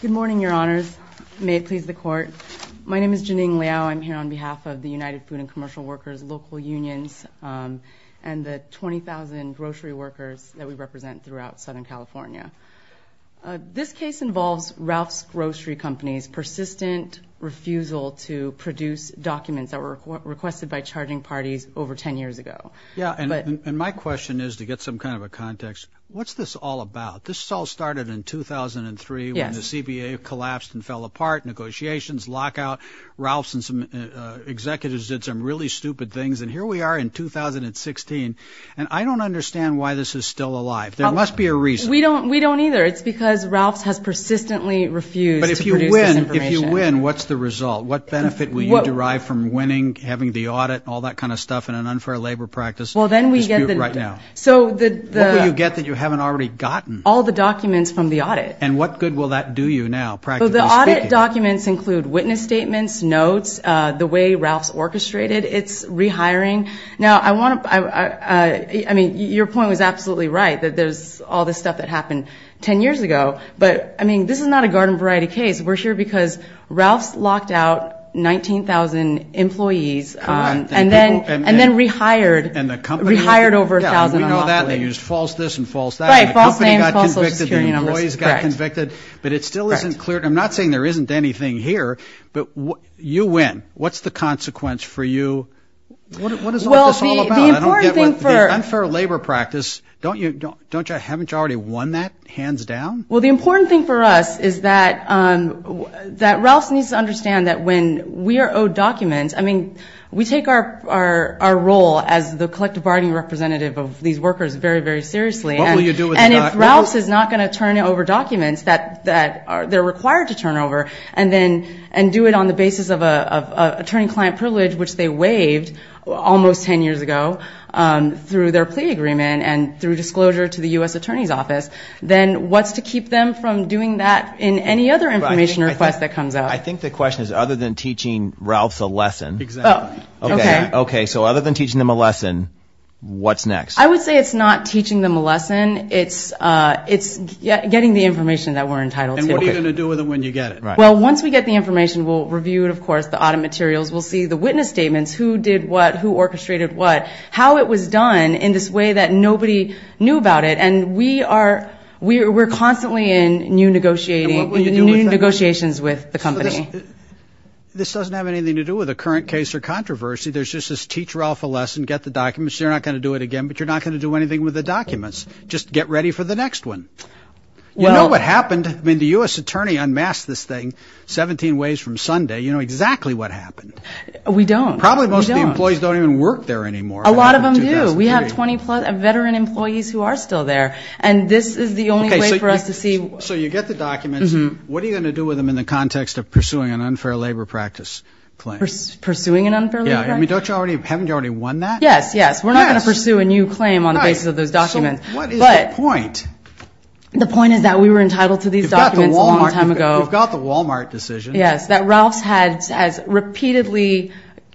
Good morning, Your Honors. May it please the Court. My name is Janine Liao. I'm here on behalf of the United Food & Commercial Workers Local Unions and the 20,000 grocery workers that we represent throughout Southern California. This case involves Ralph's Grocery Company's persistent refusal to produce documents that were requested by charging parties over ten years ago. Yeah, and my question is, to get some kind of a context, what's this all started in 2003 when the CBA collapsed and fell apart, negotiations lockout, Ralph's and some executives did some really stupid things, and here we are in 2016, and I don't understand why this is still alive. There must be a reason. We don't either. It's because Ralph's has persistently refused to produce this information. But if you win, what's the result? What benefit will you derive from winning, having the audit, all that kind of stuff in an unfair labor practice dispute right now? What will you get that you haven't already gotten? All the documents from the audit. And what good will that do you now, practically speaking? The audit documents include witness statements, notes, the way Ralph's orchestrated its rehiring. Now, I want to, I mean, your point was absolutely right that there's all this stuff that happened ten years ago, but, I mean, this is not a garden variety case. We're here because Ralph's locked out 19,000 employees and then rehired over 1,000. We know that. They used false this and false that. And the company got convicted, the employees got convicted, but it still isn't clear. I'm not saying there isn't anything here, but you win. What's the consequence for you? What is all this all about? The unfair labor practice, don't you, haven't you already won that, hands down? Well, the important thing for us is that Ralph's needs to understand that when we are owed documents, I mean, we take our role as the collective bargaining representative of these workers very, very seriously. And if Ralph's is not going to turn over documents that they're required to turn over and do it on the basis of attorney-client privilege, which they waived almost ten years ago through their plea agreement and through disclosure to the U.S. Attorney's Office, then what's to keep them from doing that in any other information request that comes out? I think the question is, other than teaching Ralph's a lesson, okay, so other than teaching them a lesson, what's next? I would say it's not teaching them a lesson, it's getting the information that we're entitled to. And what are you going to do with it when you get it? Well, once we get the information, we'll review it, of course, the audit materials, we'll see the witness statements, who did what, who orchestrated what, how it was done in this way that nobody knew about it. And we are, we're constantly in new negotiations with the company. This doesn't have anything to do with a current case or controversy. There's just this teach Ralph a lesson, get the documents. You're not going to do it again, but you're not going to do anything with the documents. Just get ready for the next one. You know what happened? I mean, the U.S. Attorney unmasked this thing 17 ways from Sunday. You know exactly what happened. We don't. Probably most of the employees don't even work there anymore. A lot of them do. We have 20-plus veteran employees who are still there. And this is the only way for us to see. So you get the documents. What are you going to do with them in the context of pursuing an unfair labor practice claim? Pursuing an unfair labor practice? Yeah. I mean, don't you already, haven't you already won that? Yes, yes. We're not going to pursue a new claim on the basis of those documents. So what is the point? The point is that we were entitled to these documents a long time ago. You've got the Walmart decision. Yes, that Ralph's had, has repeatedly,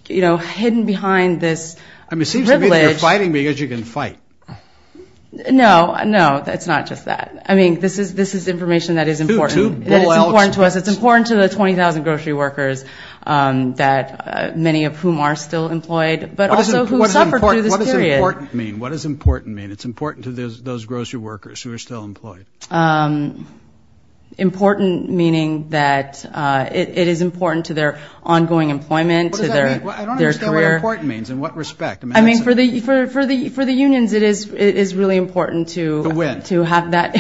you know, hidden behind this privilege. I mean, it seems to me that you're fighting because you can fight. No, no, it's not just that. I mean, this is this is information that is important to us. It's important to the 20,000 grocery workers that many of whom are still employed, but also who suffered through this period. What does important mean? It's important to those grocery workers who are still employed. Important, meaning that it is important to their ongoing employment, to their career. I don't understand what important means. In what respect? I mean, for the for the for the unions, it is it is really important to win, to have that.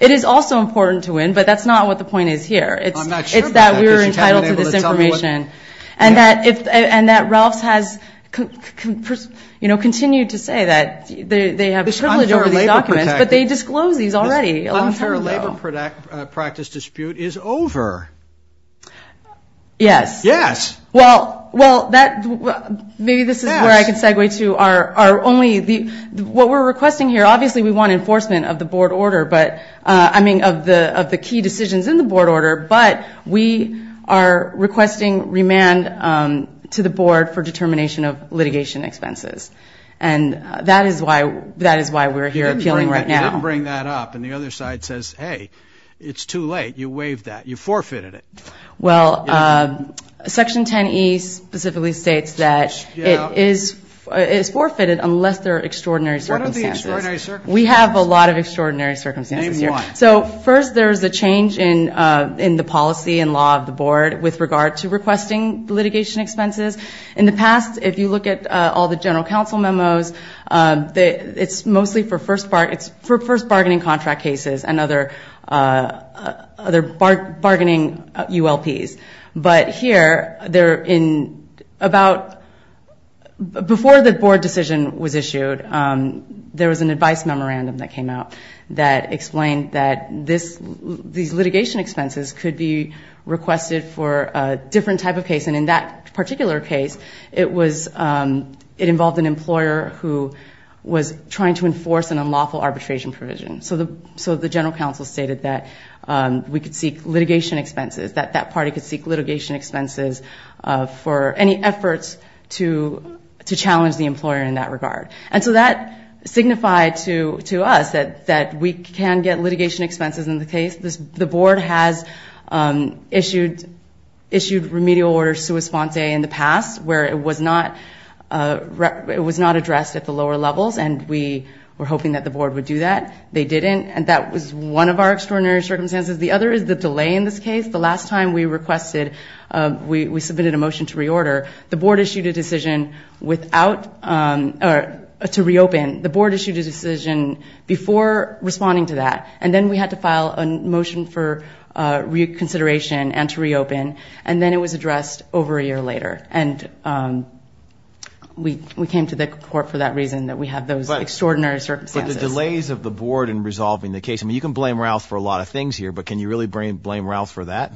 It is also important to win. But that's not what the point is here. It's it's that we're entitled to this information. And that if and that Ralph's has, you know, continued to say that they have this privilege over these documents. But they disclose these already. An unfair labor practice dispute is over. Yes. Yes. Well, well, that maybe this is where I can segue to our only the what we're requesting here. Obviously, we want enforcement of the board order. But I mean, of the of the key decisions in the board order. But we are requesting remand to the board for determination of litigation expenses. And that is why that is why we're here appealing right now. Bring that up. And the other side says, hey, it's too late. You waived that. You forfeited it. Well, Section 10 East specifically states that it is it's forfeited unless there are extraordinary circumstances. We have a lot of extraordinary circumstances here. So first, there is a change in in the policy and law of the board with regard to requesting litigation expenses in the past. If you look at all the general counsel memos, it's mostly for first part. It's for first bargaining contract cases and other other bargaining ULPs. But here they're in about before the board decision was issued. There was an advice memorandum that came out that explained that this these litigation expenses could be requested for a different type of case. And in that particular case, it was it involved an employer who was trying to enforce an unlawful arbitration provision. So the so the general counsel stated that we could seek litigation expenses, that that party could seek litigation expenses for any efforts to to challenge the employer in that regard. And so that signified to to us that that we can get litigation expenses in the case. The board has issued issued remedial order sui sponte in the past where it was not it was not addressed at the lower levels. And we were hoping that the board would do that. They didn't. And that was one of our extraordinary circumstances. The other is the delay in this case. The last time we requested we submitted a motion to reorder. The board issued a decision without to reopen. The board issued a decision before responding to that. And then we had to file a motion for reconsideration and to reopen. And then it was addressed over a year later. And we we came to the court for that reason, that we have those extraordinary circumstances. The delays of the board in resolving the case. I mean, you can blame Ralph for a lot of things here. But can you really blame Ralph for that?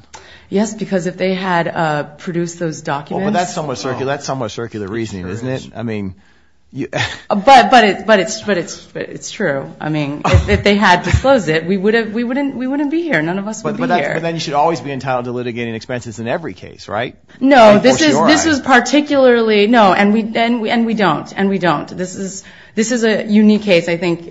Yes, because if they had produced those documents, that's somewhat circular. That's somewhat circular reasoning, isn't it? I mean, but but but it's but it's it's true. I mean, if they had disclosed it, we would have we wouldn't we wouldn't be here. None of us would be here. But then you should always be entitled to litigating expenses in every case, right? No, this is this is particularly no. And we and we and we don't and we don't. This is this is a unique case. I think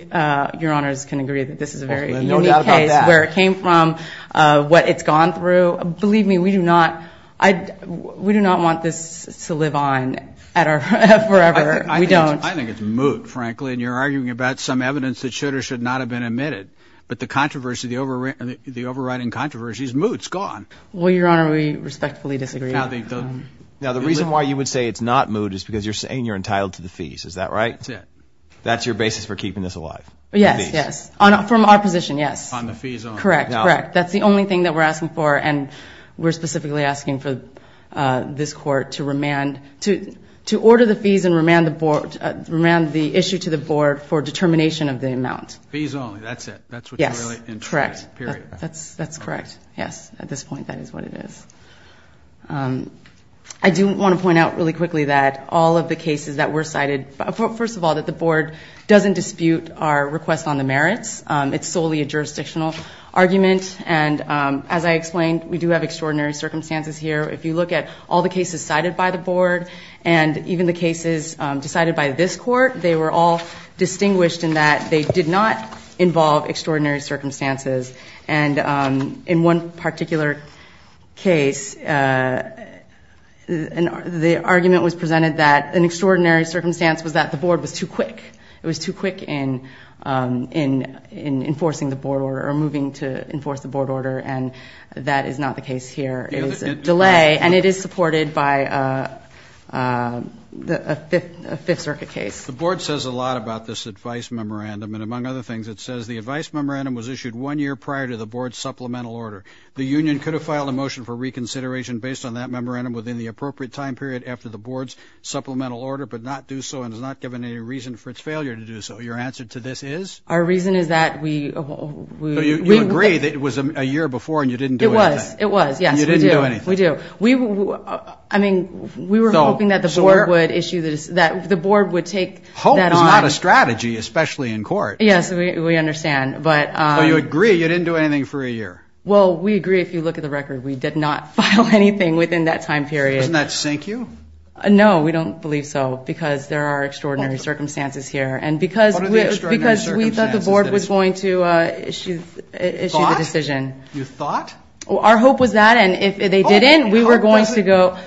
your honors can agree that this is a very unique case where it came from, what it's gone through. Believe me, we do not I we do not want this to live on at our forever. We don't I think it's moot, frankly, and you're arguing about some evidence that should or should not have been admitted. But the controversy, the over and the overriding controversy is moots gone. Well, your honor, we respectfully disagree. Now, the reason why you would say it's not moot is because you're saying you're entitled to the fees. Is that right? That's it. That's your basis for keeping this alive. Yes. Yes. On from our position. Yes. On the fees. Correct. Correct. That's the only thing that we're asking for. And we're specifically asking for this court to remand to to order the fees and remand the board around the issue to the board for determination of the amount. These only. That's it. That's what. Yes. Correct. That's that's correct. Yes. At this point, that is what it is. I do want to point out really quickly that all of the cases that were cited. First of all, that the board doesn't dispute our request on the merits. It's solely a jurisdictional argument. And as I explained, we do have extraordinary circumstances here. If you look at all the cases cited by the board and even the cases decided by this court, they were all distinguished in that they did not involve extraordinary circumstances. And in one particular case, the argument was presented that an extraordinary circumstance was that the board was too quick. It was too quick in in in enforcing the board or moving to enforce the board order. And that is not the case here. It is a delay and it is supported by the fifth circuit case. The board says a lot about this advice memorandum. And among other things, it says the advice memorandum was issued one year prior to the board supplemental order. The union could have filed a motion for reconsideration based on that memorandum within the appropriate time period after the board's supplemental order, but not do so and has not given any reason for its failure to do so. Your answer to this is? Our reason is that we we agree that it was a year before and you didn't do it. It was. Yes, we do. We do. We I mean, we were hoping that the board would issue this, that the board would take. Hope is not a strategy, especially in court. Yes, we understand. But you agree you didn't do anything for a year. Well, we agree. If you look at the record, we did not file anything within that time period. Doesn't that sink you? No, we don't believe so, because there are extraordinary circumstances here. And because because we thought the board was going to issue a decision, you thought our hope was that and if they didn't, we were going to go.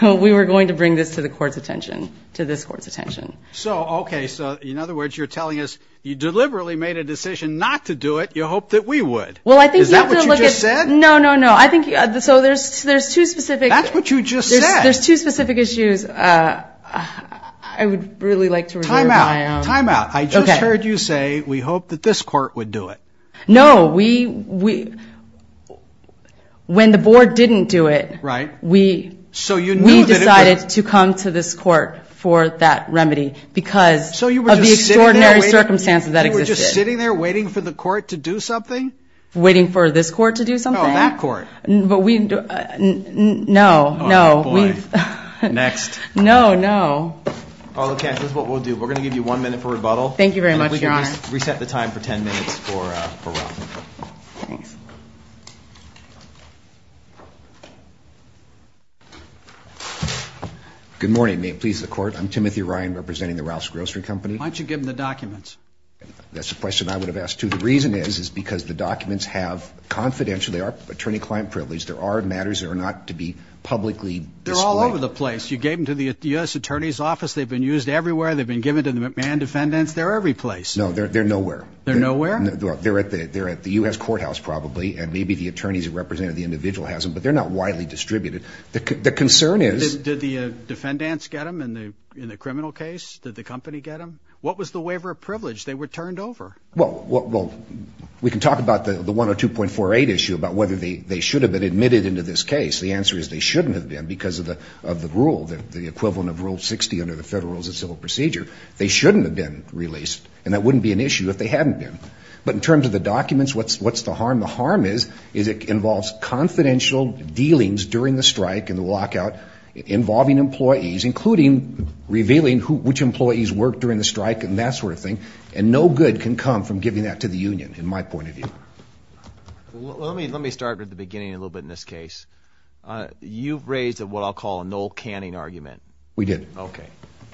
We were going to bring this to the court's attention, to this court's attention. So, OK, so in other words, you're telling us you deliberately made a decision not to do it. You hope that we would. Well, I think that what you said. No, no, no. I think so. There's there's two specific. That's what you just said. There's two specific issues I would really like to time out, time out. I just heard you say we hope that this court would do it. No, we we when the board didn't do it. Right. We. So you decided to come to this court for that remedy because. So you were sitting there waiting for the court to do something. Waiting for this court to do something on that court. But we know. No, we next. No, no. All of that is what we'll do. We're going to give you one minute for rebuttal. Thank you very much, Your Honor. Reset the time for 10 minutes for for. Good morning, please, the court. I'm Timothy Ryan representing the Ralph's Grocery Company. Why don't you give them the documents? That's the question I would have asked, too. The reason is, is because the documents have confidential. They are attorney client privilege. There are matters that are not to be publicly. They're all over the place. You gave them to the U.S. attorney's office. They've been used everywhere. They've been given to the McMahon defendants. They're every place. No, they're nowhere. They're nowhere. They're at the they're at the U.S. courthouse, probably. And maybe the attorneys who represented the individual hasn't. But they're not widely distributed. The concern is, did the defendants get them in the in the criminal case? Did the company get them? What was the waiver of privilege? They were turned over. Well, we can talk about the 102.48 issue about whether they should have been admitted into this case. The answer is they shouldn't have been because of the of the rule, the equivalent of Rule 60 under the Federal Rules of Civil Procedure. They shouldn't have been released. And that wouldn't be an issue if they hadn't been. But in terms of the documents, what's what's the harm? The harm is, is it involves confidential dealings during the strike and the lockout involving employees, including revealing which employees worked during the strike and that sort of thing. And no good can come from giving that to the union. In my point of view, let me let me start at the beginning a little bit in this case, you've raised what I'll call a no canning argument. We did. OK,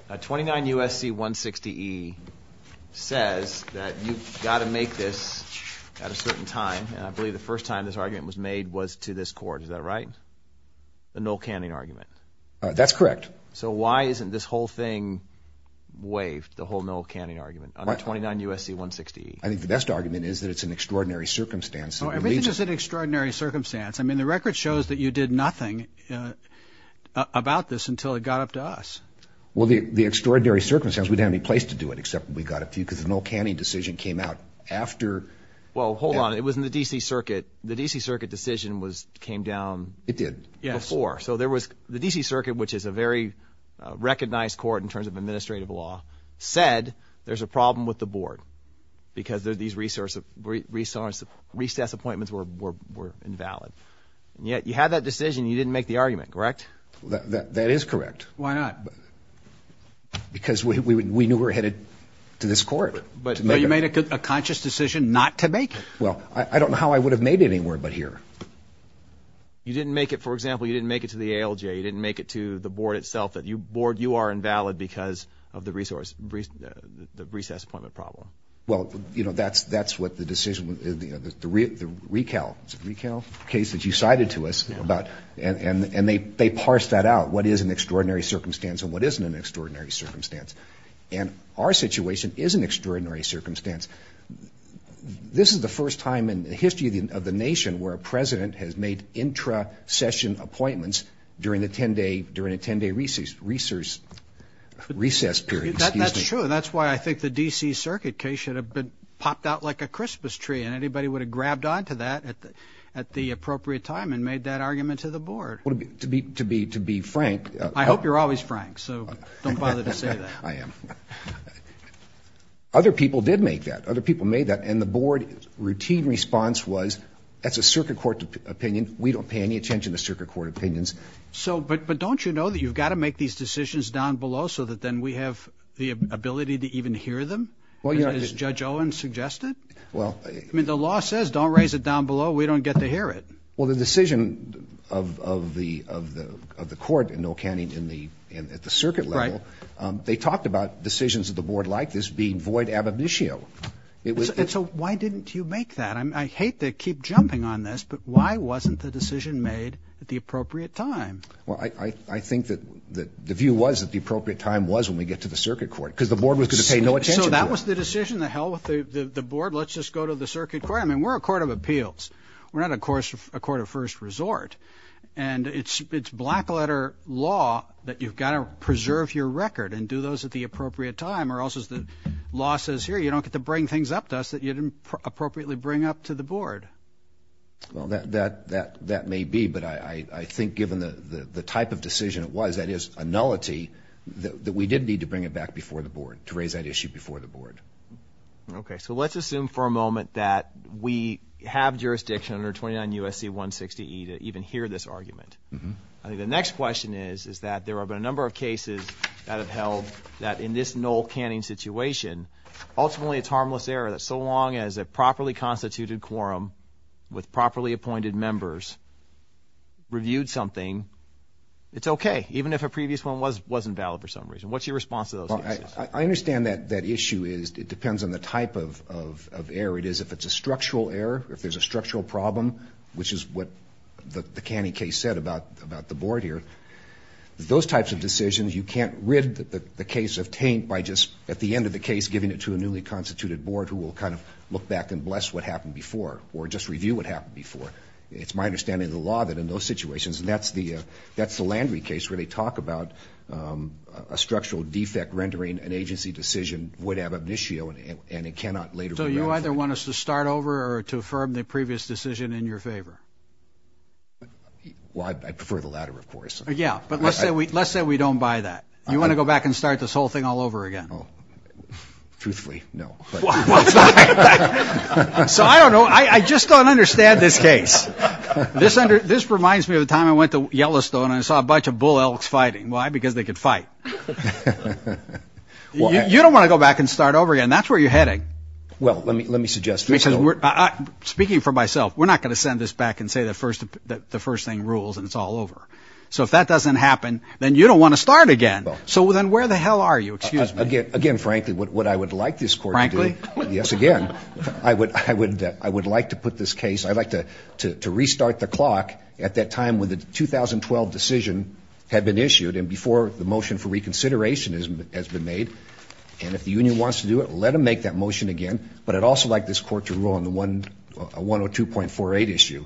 a 29 U.S.C. 160 E says that you've got to make this at a certain time. And I believe the first time this argument was made was to this court. Is that right? The no canning argument. That's correct. So why isn't this whole thing waived, the whole no canning argument on a 29 U.S.C. 160 E? I think the best argument is that it's an extraordinary circumstance. Everything is an extraordinary circumstance. I mean, the record shows that you did nothing about this until it got up to us. Well, the extraordinary circumstance, we didn't have any place to do it except we got a few because the no canning decision came out after. Well, hold on. It was in the D.C. Circuit. The D.C. Circuit decision was came down. It did. Yes. Before. So there was the D.C. Circuit, which is a very recognized court in terms of administrative law, said there's a problem with the board because these recess appointments were invalid. And yet you had that decision. You didn't make the argument, correct? That is correct. Why not? Because we knew we were headed to this court. But you made a conscious decision not to make it. Well, I don't know how I would have made it anywhere but here. You didn't make it, for example, you didn't make it to the ALJ, you didn't make it to the board itself, that you board, you are invalid because of the resource, the recess appointment problem. Well, you know, that's that's what the decision, the recal, recal case that you cited to us about and they they parsed that out. What is an extraordinary circumstance and what isn't an extraordinary circumstance. And our situation is an extraordinary circumstance. This is the first time in the history of the nation where a president has made intra session appointments during the 10 day, during a 10 day recess, recess, recess period. That's true. That's why I think the D.C. Circuit case should have been popped out like a Christmas tree. And anybody would have grabbed on to that at the at the appropriate time and made that argument to the board to be, to be, to be frank. I hope you're always frank. So don't bother to say that I am. Other people did make that, other people made that and the board routine response was, that's a circuit court opinion. We don't pay any attention to circuit court opinions. So but but don't you know that you've got to make these decisions down below so that then we have the ability to even hear them? Well, you know, as Judge Owen suggested, well, I mean, the law says don't raise it down below. We don't get to hear it. Well, the decision of the of the of the court in Ocani at the circuit level, they talked about decisions of the board like this being void ab initio. It was so why didn't you make that? I mean, I hate to keep jumping on this, but why wasn't the decision made at the appropriate time? Well, I think that that the view was that the appropriate time was when we get to the circuit court because the board was going to pay no attention. So that was the decision that held with the board. Let's just go to the circuit court. I mean, we're a court of appeals. We're not, of course, a court of first resort. And it's it's black letter law that you've got to preserve your record and do those at the appropriate time or else is the law says here you don't get to bring things up to us that you didn't appropriately bring up to the board. Well, that that that that may be. But I think given the type of decision it was, that is a nullity that we did need to bring it back before the board to raise that issue before the board. OK, so let's assume for a moment that we have jurisdiction under 29 USC 160 to even hear this argument. I think the next question is, is that there have been a number of cases that have held that in this null canning situation. Ultimately, it's harmless error that so long as a properly constituted quorum with properly appointed members. Reviewed something, it's OK, even if a previous one was wasn't valid for some reason, what's your response to those? I understand that that issue is it depends on the type of of of error it is, if it's a structural error, if there's a structural problem, which is what the canning case said about about the board here, those types of decisions. You can't rid the case of taint by just at the end of the case, giving it to a newly constituted board who will kind of look back and bless what happened before or just review what happened before. It's my understanding of the law that in those situations, and that's the that's the Landry case where they talk about a structural defect, rendering an agency decision would have an issue and it cannot later. So you either want us to start over or to affirm the previous decision in your favor? Well, I prefer the latter, of course. Yeah, but let's say we let's say we don't buy that. You want to go back and start this whole thing all over again? Oh, truthfully, no. Well, so I don't know. I just don't understand this case. This this reminds me of the time I went to Yellowstone and saw a bunch of bull elks fighting. Why? Because they could fight. Well, you don't want to go back and start over again. That's where you're heading. Well, let me let me suggest because we're speaking for myself. We're not going to send this back and say the first that the first thing rules and it's all over. So if that doesn't happen, then you don't want to start again. So then where the hell are you? Excuse me again. Frankly, what I would like this court. Frankly, yes. Again, I would I would I would like to put this case. I'd like to to restart the clock at that time when the 2012 decision had been issued and before the motion for reconsideration has been made. And if the union wants to do it, let them make that motion again. But I'd also like this court to rule on the one one or two point four eight issue.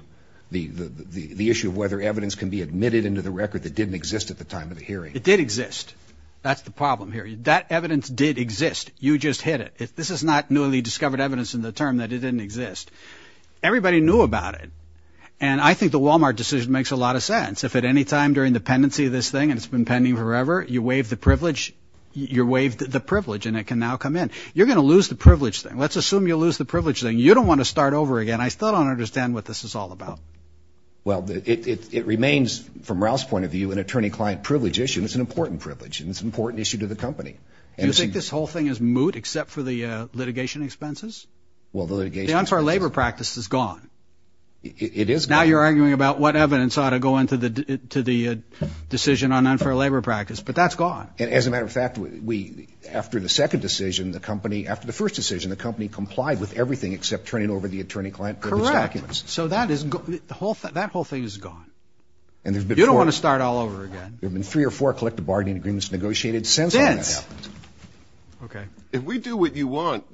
The the issue of whether evidence can be admitted into the record that didn't exist at the time of the hearing. It did exist. That's the problem here. That evidence did exist. You just hit it. This is not newly discovered evidence in the term that it didn't exist. Everybody knew about it. And I think the Wal-Mart decision makes a lot of sense. If at any time during the pendency of this thing and it's been pending forever, you waive the privilege, you're waived the privilege and it can now come in. You're going to lose the privilege thing. Let's assume you lose the privilege thing. You don't want to start over again. I still don't understand what this is all about. Well, it remains, from Ralph's point of view, an attorney client privilege issue, and it's an important privilege and it's an important issue to the company. And you think this whole thing is moot except for the litigation expenses? Well, the litigation for labor practice is gone. It is. Now you're arguing about what evidence ought to go into the to the decision on unfair labor practice. But that's gone. And as a matter of fact, we after the second decision, the company after the first decision, the company complied with everything except turning over the attorney client. So that is the whole that whole thing is gone. And you don't want to start all over again. There have been three or four collective bargaining agreements negotiated since. OK, if we do what you want,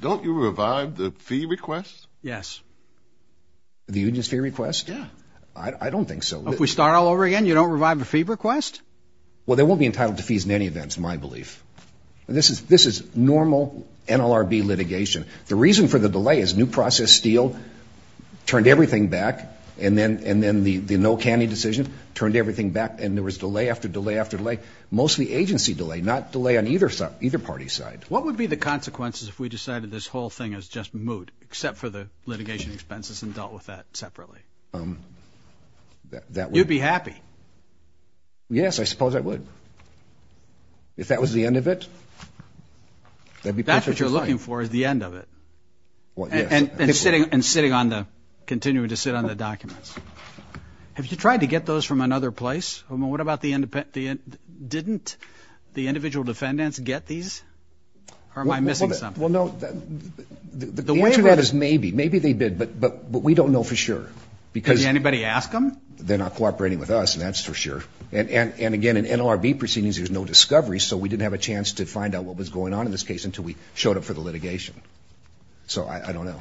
don't you revive the fee request? Yes. The union's fee request? Yeah, I don't think so. If we start all over again, you don't revive the fee request. Well, they won't be entitled to fees in any events, my belief. And this is this is normal NLRB litigation. The reason for the delay is new process steel turned everything back and then and then the the no canny decision turned everything back. And there was delay after delay after delay, mostly agency delay, not delay on either side, either party side. What would be the consequences if we decided this whole thing is just moot except for the litigation expenses and dealt with that separately? That you'd be happy. Yes, I suppose I would. If that was the end of it. That's what you're looking for, is the end of it. Well, and sitting and sitting on the continuing to sit on the documents. Have you tried to get those from another place? I mean, what about the independent didn't the individual defendants get these or am I missing something? Well, no, the way that is, maybe maybe they did. But but but we don't know for sure because anybody ask them, they're not cooperating with us. And that's for sure. And again, in NLRB proceedings, there's no discovery. So we didn't have a chance to find out what was going on in this case until we showed up for the litigation. So I don't know.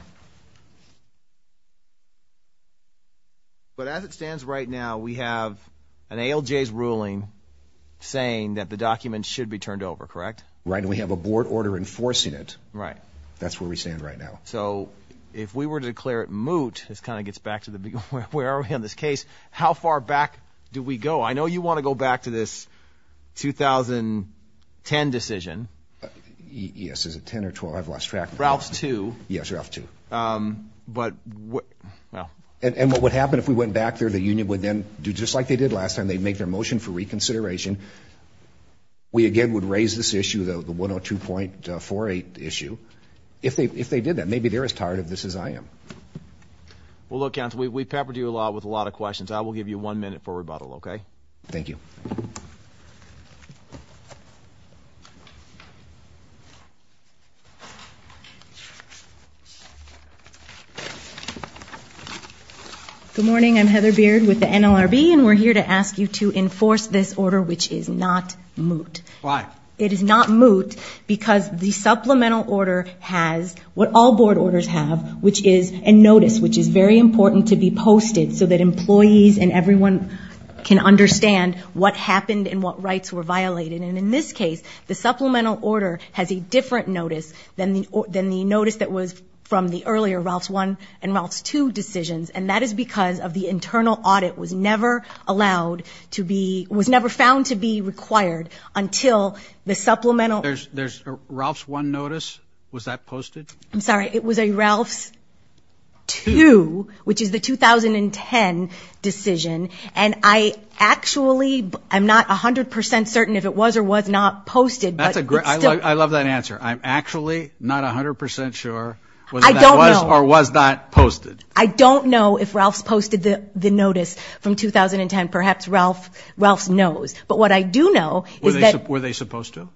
But as it stands right now, we have an ALJ ruling saying that the documents should be turned over, correct? Right. And we have a board order enforcing it. Right. That's where we stand right now. So if we were to declare it moot, this kind of gets back to the where are we in this case? How far back do we go? I know you want to go back to this 2010 decision. Yes. Is it 10 or 12? I've lost track. Ralph's two. Yes, you have to. But well, and what would happen if we went back there? The union would then do just like they did last time. They'd make their motion for reconsideration. We again would raise this issue, the one or two point four eight issue, if they if they did that, maybe they're as tired of this as I am. Well, look, we peppered you a lot with a lot of questions. I will give you one minute for rebuttal, OK? Thank you. Good morning, I'm Heather Beard with the NLRB, and we're here to ask you to enforce this order, which is not moot. Why? It is not moot because the supplemental order has what all board orders have, which is a notice, which is very important to be posted so that employees and everyone can understand what happened and what rights were violated. And in this case, the supplemental order has a different notice than the than the notice that was from the earlier Ralph's one and Ralph's two decisions. And that is because of the internal audit was never allowed to be was never found to be required until the supplemental. There's there's Ralph's one notice. Was that posted? I'm sorry. It was a Ralph's two, which is the 2010 decision. And I actually I'm not 100 percent certain if it was or was not posted. That's a great. I love that answer. I'm actually not 100 percent sure whether that was or was not posted. I don't know if Ralph's posted the notice from 2010. Perhaps Ralph Ralph's knows. But what I do know is that were they supposed to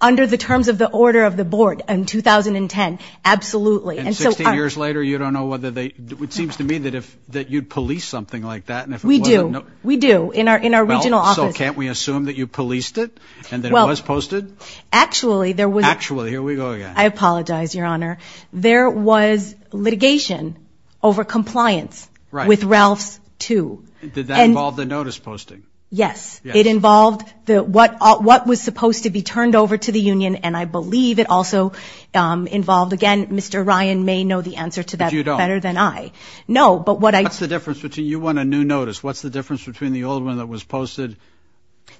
under the terms of the order of the board in 2010? Absolutely. And so years later, you don't know whether they it seems to me that if that you'd police something like that and if we do, we do in our in our regional office. Can't we assume that you policed it and that it was posted? Actually, there was actually here we go again. I apologize, Your Honor. There was litigation over compliance with Ralph's two. Did that involve the notice posting? Yes, it involved the what what was supposed to be turned over to the union. And I believe it also involved again, Mr. Ryan may know the answer to that better than I know. But what's the difference between you want a new notice? What's the difference between the old one that was posted?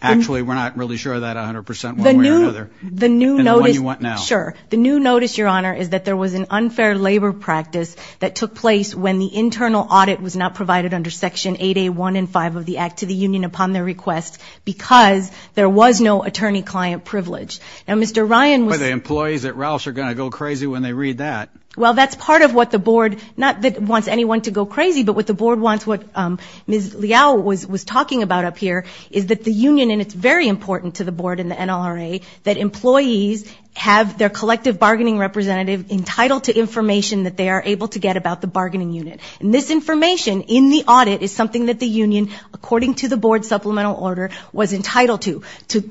Actually, we're not really sure that 100 percent the new the new notice you want now. Sure. The new notice, Your Honor, is that there was an unfair labor practice that took place when the internal audit was not provided under Section eight, a one in five of the Act to the union upon their request because there was no attorney client privilege. And Mr. Ryan with the employees at Ralph's are going to go crazy when they read that. Well, that's part of what the board not that wants anyone to go crazy. But what the board wants, what Ms. Liao was was talking about up here is that the union and it's very important to the board and the NRA that employees have their collective bargaining representative entitled to information that they are able to get about the bargaining unit. And this information in the audit is something that the union, according to the board supplemental order, was entitled to.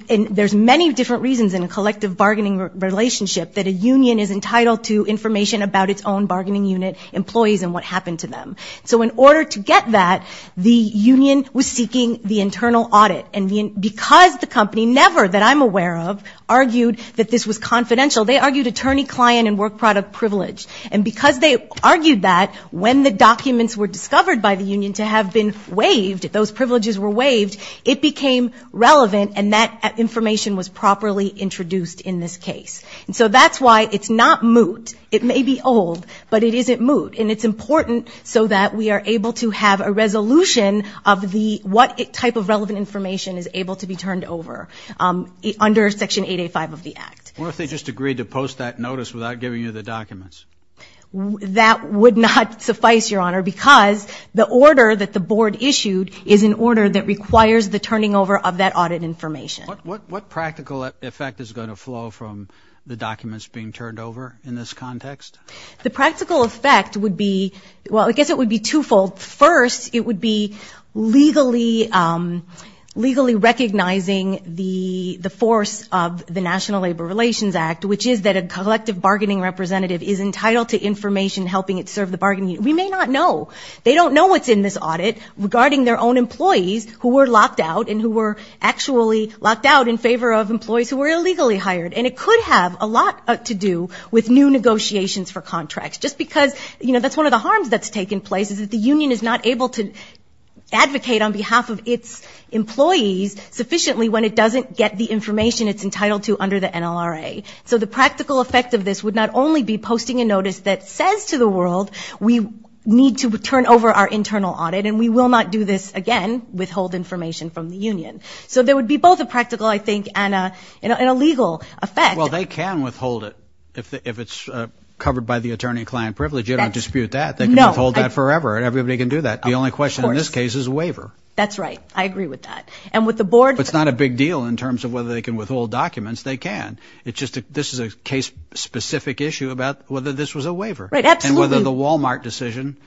There's many different reasons in a collective bargaining relationship that a union is entitled to information about its own bargaining unit employees and what happened to them. So in order to get that, the union was seeking the internal audit. And because the company never that I'm aware of argued that this was confidential, they argued attorney client and work product privilege. And because they argued that when the documents were discovered by the union to have been waived, those privileges were waived. It became relevant and that information was properly introduced in this case. And so that's why it's not moot. It may be old, but it isn't moot. And it's important so that we are able to have a resolution of the what type of relevant information is able to be turned over under Section 885 of the Act. What if they just agreed to post that notice without giving you the documents? That would not suffice, Your Honor, because the order that the board issued is an order that requires the turning over of that audit information. What practical effect is going to flow from the documents being turned over in this context? The practical effect would be, well, I guess it would be twofold. First, it would be legally, legally recognizing the force of the National Labor Relations Act, which is that a collective bargaining representative is entitled to information helping it serve the bargaining. We may not know. They don't know what's in this audit regarding their own employees who were locked out and who were actually locked out in favor of employees who were illegally hired. And it could have a lot to do with new negotiations for contracts. Just because, you know, that's one of the harms that's taken place is that the union is not able to advocate on behalf of its employees sufficiently when it doesn't get the information it's entitled to under the NLRA. So the practical effect of this would not only be posting a notice that says to the world, we need to turn over our internal audit and we will not do this again, withhold information from the union. So there would be both a practical, I think, and a legal effect. Well, they can withhold it if it's covered by the attorney-client privilege. You don't dispute that. They can withhold that forever and everybody can do that. The only question in this case is a waiver. That's right. I agree with that. And with the board... It's not a big deal in terms of whether they can withhold documents. They can. It's just that this is a case-specific issue about whether this was a waiver. Right. Absolutely. And whether the Walmart decision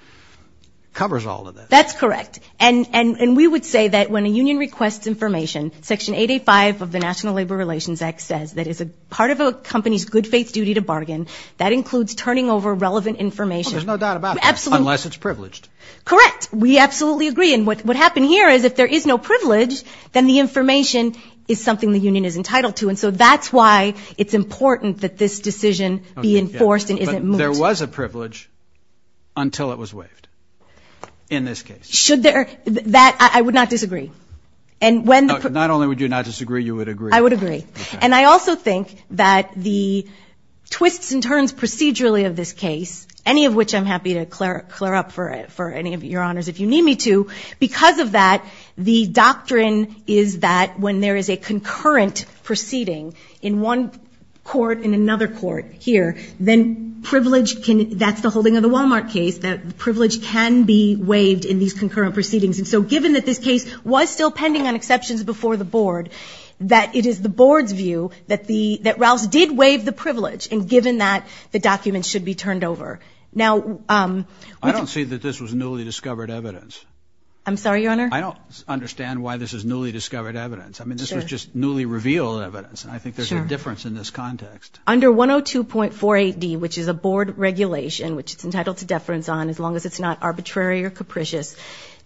covers all of this. That's correct. And we would say that when a union requests information, Section 885 of the National Labor Relations Act says that as a part of a company's good-faith duty to bargain, that includes turning over relevant information. Well, there's no doubt about that. Absolutely. Unless it's privileged. Correct. We absolutely agree. And what happened here is if there is no privilege, then the information is something the union is entitled to. And so that's why it's important that this decision be enforced and isn't moved. But there was a privilege until it was waived in this case. Should there... That... I would not disagree. And when... Not only would you not disagree, you would agree. I would agree. And I also think that the twists and turns procedurally of this case, any of which I'm happy to clear up for any of your honors if you need me to, because of that, the doctrine is that when there is a concurrent proceeding in one court, in another court here, then privilege can... That's the holding of the Walmart case, that privilege can be waived in these concurrent proceedings. And so given that this case was still pending on exceptions before the board, that it is the board's view that the... That Rouse did waive the privilege. And given that, the documents should be turned over. Now... I don't see that this was newly discovered evidence. I'm sorry, Your Honor? I don't understand why this is newly discovered evidence. I mean, this was just newly revealed evidence. I think there's a difference in this context. Under 102.48D, which is a board regulation, which it's entitled to deference on as long as it's not arbitrary or capricious,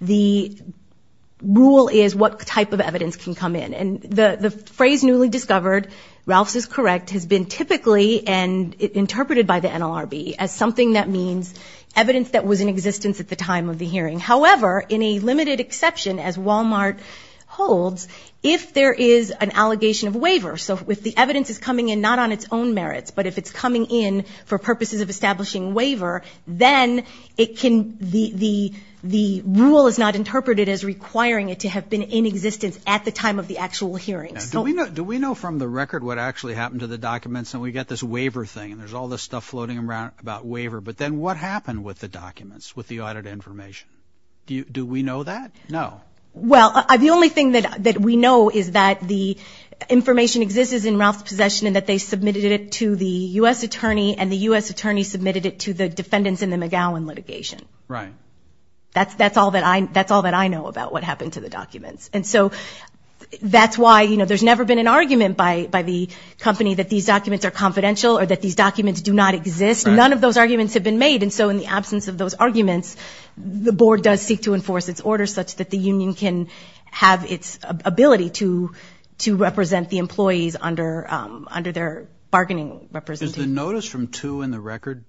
the rule is what type of evidence can come in. And the phrase newly discovered, Rouse is correct, has been typically interpreted by the NLRB as something that means evidence that was in existence at the time of the hearing. However, in a limited exception, as Walmart holds, if there is an allegation of waiver. So if the evidence is coming in not on its own merits, but if it's coming in for purposes of establishing waiver, then it can... The rule is not interpreted as requiring it to have been in existence at the time of the actual hearing. Do we know from the record what actually happened to the documents? And we got this waiver thing, and there's all this stuff floating around about waiver. But then what happened with the documents, with the audit information? Do we know that? No. Well, the only thing that we know is that the information exists in Rouse's possession and that they submitted it to the U.S. attorney, and the U.S. attorney submitted it to the defendants in the McGowan litigation. Right. That's all that I know about what happened to the documents. And so that's why, you know, there's never been an argument by the company that these documents are confidential or that these documents do not exist. None of those arguments have been made. And so in the absence of those arguments, the board does seek to enforce its order such that the union can have its ability to represent the employees under their bargaining representation. Is the notice from 2 in the record?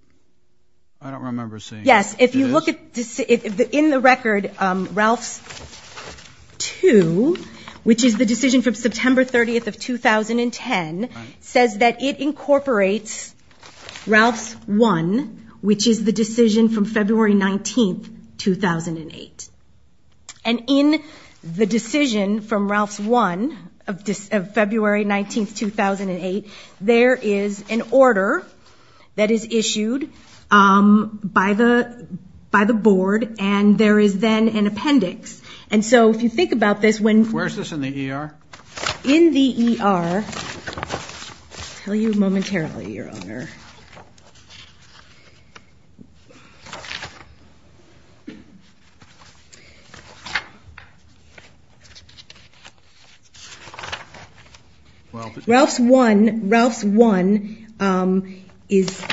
I don't remember seeing it. Yes. If you look at, in the record, Rouse 2, which is the decision from September 30th of 2010, says that it incorporates Rouse 1, which is the decision from February 19th, 2008. And in the decision from Rouse 1 of February 19th, 2008, there is an order that is issued by the board, and there is then an appendix. And so if you think about this, when- Where is this in the ER? In the ER, I'll tell you momentarily, Your Honor. Rouse 1, Rouse 1 is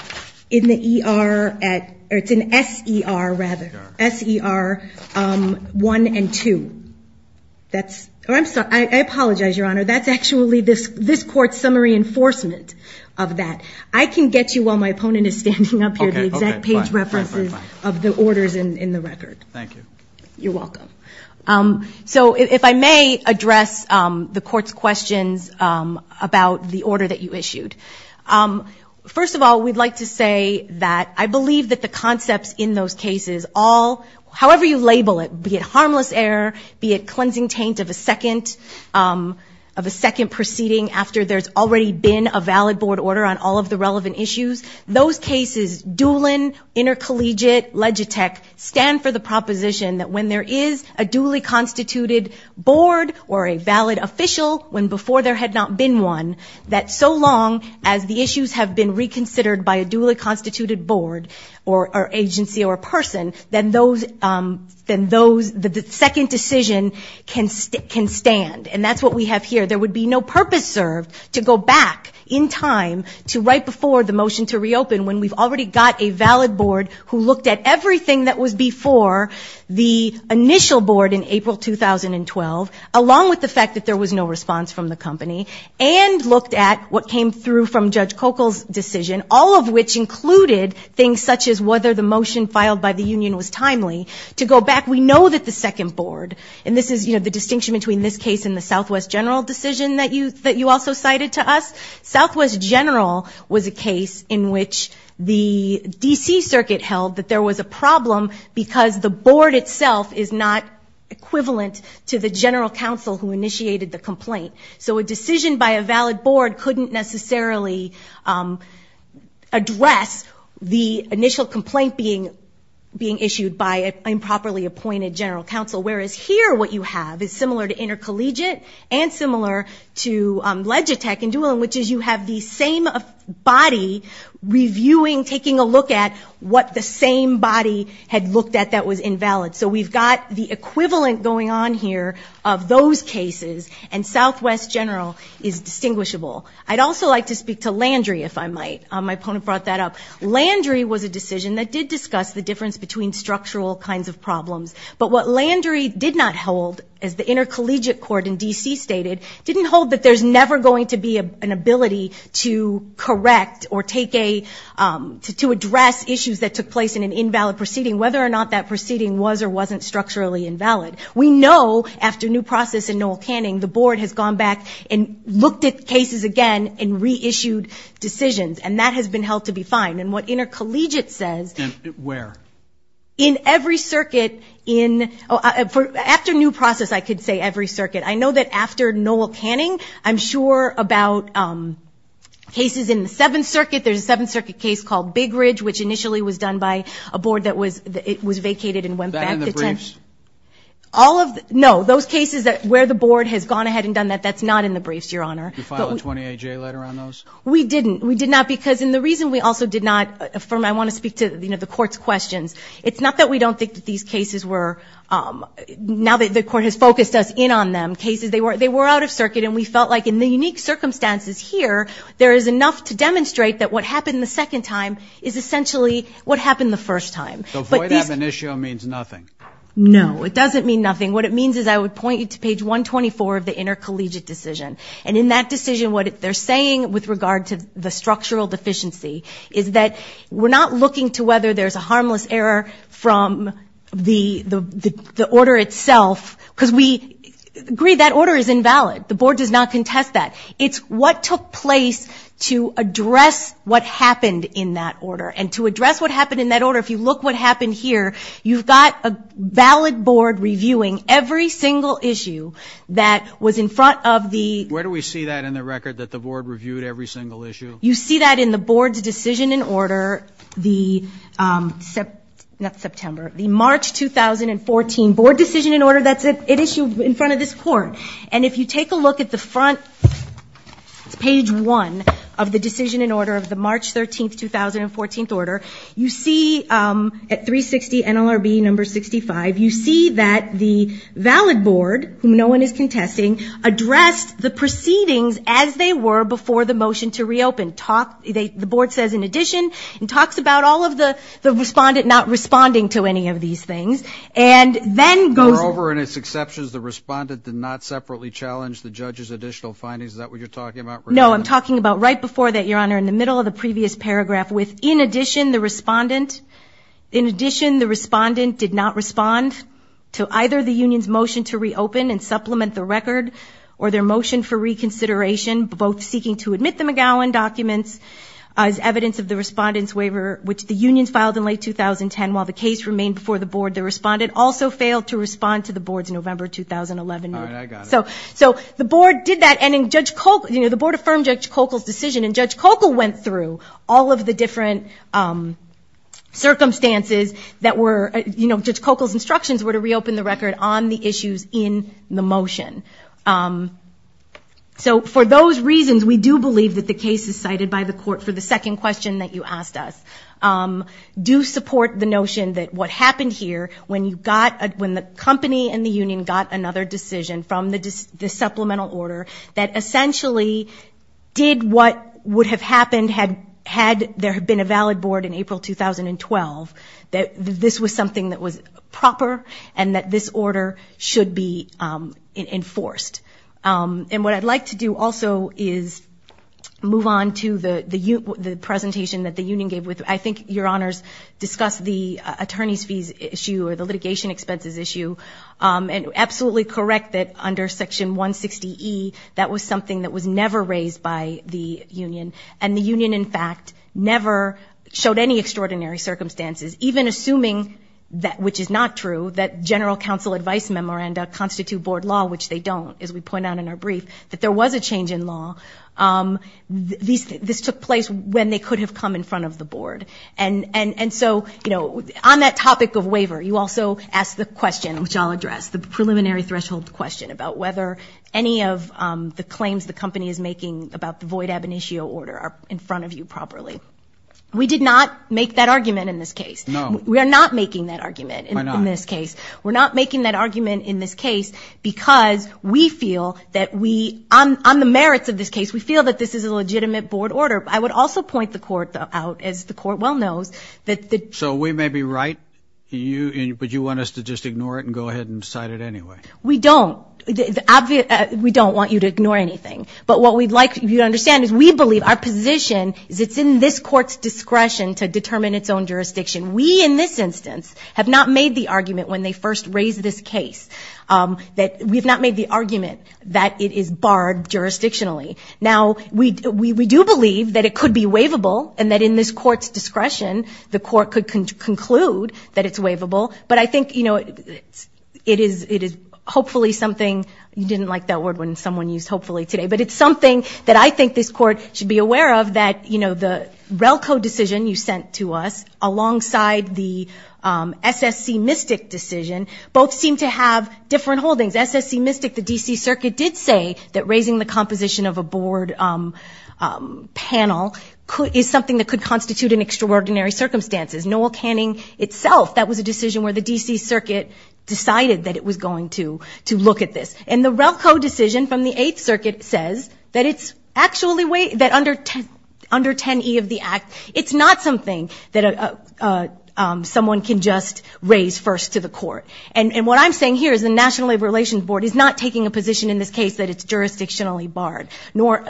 in the ER at, or it's in SER, rather, SER 1 and 2. That's, or I'm sorry, I apologize, Your Honor, that's actually this court's summary enforcement of that. I can get you while my opponent is standing up here, the exact page references of the orders in the record. Thank you. You're welcome. So if I may address the court's questions about the order that you issued. First of all, we'd like to say that I believe that the concepts in those cases all, however you label it, be it harmless error, be it cleansing taint of a second proceeding after there's already been a valid board order on all of the relevant issues, those cases, dueling, intercollegiate, legitech, stand for the proposition that when there is a duly constituted board or a valid official when before there had not been one, that so long as the issues have been reconsidered by a duly constituted board or agency or person, then those, then those, the second decision can stand. And that's what we have here. There would be no purpose served to go back in time to right before the motion to reopen when we've already got a valid board who looked at everything that was before the initial board in April 2012, along with the fact that there was no response from the company, and looked at what came through from Judge Cokel's decision, all of which included things such as whether the motion filed by the union was timely, to go back. So we know that the second board, and this is, you know, the distinction between this case and the Southwest General decision that you also cited to us. Southwest General was a case in which the D.C. Circuit held that there was a problem because the board itself is not equivalent to the general counsel who initiated the complaint. So a decision by a valid board couldn't necessarily address the initial complaint being issued by an improperly appointed general counsel. Whereas here what you have is similar to intercollegiate and similar to Legitech and Doolin, which is you have the same body reviewing, taking a look at what the same body had looked at that was invalid. So we've got the equivalent going on here of those cases, and Southwest General is distinguishable. I'd also like to speak to Landry, if I might. My opponent brought that up. Landry was a decision that did discuss the difference between structural kinds of problems. But what Landry did not hold, as the intercollegiate court in D.C. stated, didn't hold that there's never going to be an ability to correct or take a, to address issues that took place in an invalid proceeding, whether or not that proceeding was or wasn't structurally invalid. We know after new process in Noel Canning, the board has gone back and looked at cases again and reissued decisions. And that has been held to be fine. And what intercollegiate says- Where? In every circuit in, after new process I could say every circuit. I know that after Noel Canning, I'm sure about cases in the Seventh Circuit. There's a Seventh Circuit case called Big Ridge, which initially was done by a board that was vacated and went back. That in the briefs? All of, no, those cases where the board has gone ahead and done that, that's not in the briefs, your honor. You filed a 20-A-J letter on those? We didn't. We did not because, and the reason we also did not, I want to speak to the court's questions. It's not that we don't think that these cases were, now that the court has focused us in on them, they were out of circuit and we felt like in the unique circumstances here, there is enough to demonstrate that what happened the second time is essentially what happened the first time. So void ab initio means nothing? No, it doesn't mean nothing. What it means is I would point you to page 124 of the intercollegiate decision. And in that decision, what they're saying with regard to the structural deficiency is that we're not looking to whether there's a harmless error from the order itself. Because we agree that order is invalid. The board does not contest that. It's what took place to address what happened in that order. And to address what happened in that order, if you look what happened here, you've got a valid board reviewing every single issue that was in front of the- Where do we see that in the record, that the board reviewed every single issue? You see that in the board's decision in order, the, not September, the March 2014 board decision in order that's issued in front of this court. And if you take a look at the front, it's page one of the decision in order of the March 13th, 2014th order. You see at 360 NLRB number 65, you see that the valid board, whom no one is contesting, addressed the proceedings as they were before the motion to reopen. The board says, in addition, and talks about all of the respondent not responding to any of these things. And then goes- We're over in its exceptions, the respondent did not separately challenge the judge's additional findings. Is that what you're talking about right now? No, I'm talking about right before that, Your Honor, in the middle of the previous paragraph with, in addition, the respondent. In addition, the respondent did not respond to either the union's motion to reopen and as evidence of the respondent's waiver, which the union filed in late 2010, while the case remained before the board. The respondent also failed to respond to the board's November 2011- All right, I got it. So the board did that, and the board affirmed Judge Kokel's decision. And Judge Kokel went through all of the different circumstances that were, Judge Kokel's instructions were to reopen the record on the issues in the motion. So for those reasons, we do believe that the case is cited by the court for the second question that you asked us. Do support the notion that what happened here, when you got, when the company and the union got another decision from the supplemental order that essentially did what would have happened had there been a valid board in April 2012. That this was something that was proper and that this order should be enforced. And what I'd like to do also is move on to the presentation that the union gave. I think your honors discussed the attorney's fees issue or the litigation expenses issue. And absolutely correct that under section 160E, that was something that was never raised by the union. And the union, in fact, never showed any extraordinary circumstances. Even assuming that, which is not true, that general counsel advice memoranda constitute board law, which they don't, as we point out in our brief, that there was a change in law. This took place when they could have come in front of the board. And so on that topic of waiver, you also asked the question, which I'll address, the preliminary threshold question about whether any of the claims the company is making about the void ab initio order are in front of you properly. We did not make that argument in this case. We are not making that argument in this case. We're not making that argument in this case because we feel that we, on the merits of this case, we feel that this is a legitimate board order. I would also point the court out, as the court well knows, that the- We don't, we don't want you to ignore anything. But what we'd like you to understand is we believe our position is it's in this court's discretion to determine its own jurisdiction. We, in this instance, have not made the argument when they first raised this case, that we've not made the argument that it is barred jurisdictionally. Now, we do believe that it could be waivable, and that in this court's discretion, the court could conclude that it's waivable. But I think it is hopefully something, you didn't like that word when someone used hopefully today. But it's something that I think this court should be aware of, that the RELCO decision you sent to us, alongside the SSC-Mystic decision, both seem to have different holdings. SSC-Mystic, the DC circuit did say that raising the composition of a board panel is something that could constitute an extraordinary circumstances. Noel Canning itself, that was a decision where the DC circuit decided that it was going to look at this. And the RELCO decision from the Eighth Circuit says that it's actually, that under 10E of the act, it's not something that someone can just raise first to the court. And what I'm saying here is the National Labor Relations Board is not taking a position in this case that it's jurisdictionally barred. Nor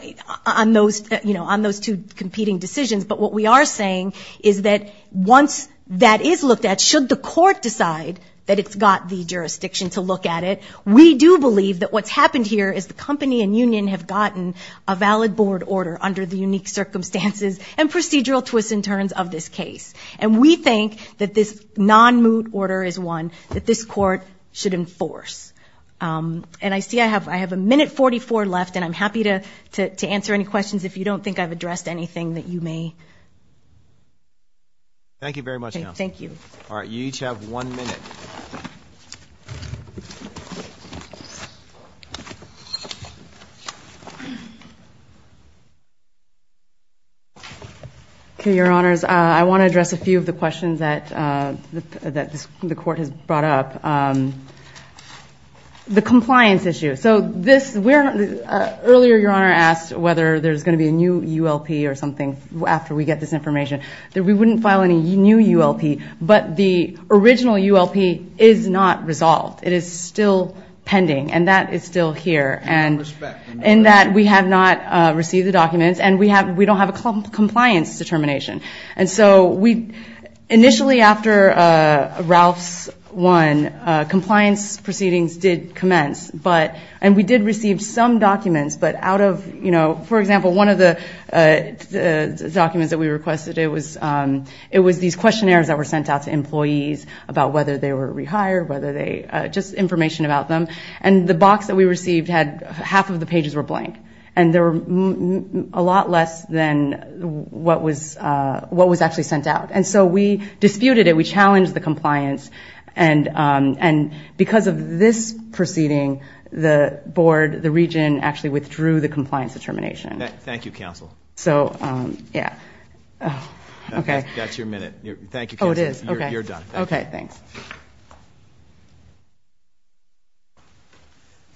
on those two competing decisions. But what we are saying is that once that is looked at, should the court decide that it's got the jurisdiction to look at it, we do believe that what's happened here is the company and union have gotten a valid board order under the unique circumstances and procedural twists and turns of this case. And we think that this non-moot order is one that this court should enforce. And I see I have a minute 44 left, and I'm happy to answer any questions if you don't think I've addressed anything that you may. Thank you very much, Counselor. Thank you. All right, you each have one minute. Okay, your honors, I want to address a few of the questions that the court has brought up. The compliance issue, so earlier your honor asked whether there's going to be a new ULP or something after we get this information, that we wouldn't file any new ULP, but the original ULP is not resolved. It is still pending, and that is still here. And in that we have not received the documents, and we don't have a compliance determination. And so we, initially after Ralph's one, compliance proceedings did commence, and we did receive some documents, but out of, for example, one of the documents that we requested, it was these questionnaires that were sent out to employees about whether they were rehired, whether they, just information about them. And the box that we received had half of the pages were blank. And there were a lot less than what was actually sent out. And so we disputed it. We challenged the compliance. And because of this proceeding, the board, the region, actually withdrew the compliance determination. Thank you, Counsel. So, yeah, okay. That's your minute. Thank you, Counsel. Oh, it is, okay. You're done. Okay, thanks.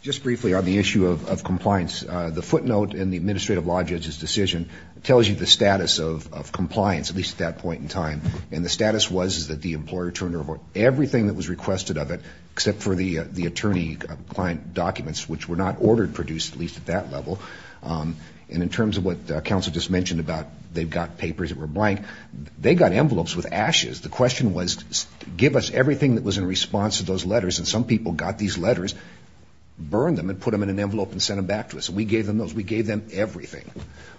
Just briefly on the issue of compliance, the footnote in the administrative law judge's decision tells you the status of compliance, at least at that point in time. And the status was that the employer turned over everything that was requested of it, except for the attorney client documents, which were not ordered, produced, at least at that level. And in terms of what Counsel just mentioned about they've got papers that were blank, they got envelopes with ashes. The question was, give us everything that was in response to those letters. And some people got these letters, burned them, and put them in an envelope and sent them back to us. And we gave them those. We gave them everything.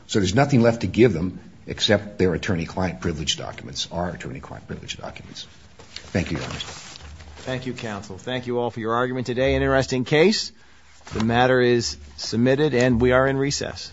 So there's nothing left to give them except their attorney client privilege documents, our attorney client privilege documents. Thank you, Your Honor. Thank you, Counsel. Thank you all for your argument today. An interesting case. The matter is submitted and we are in recess.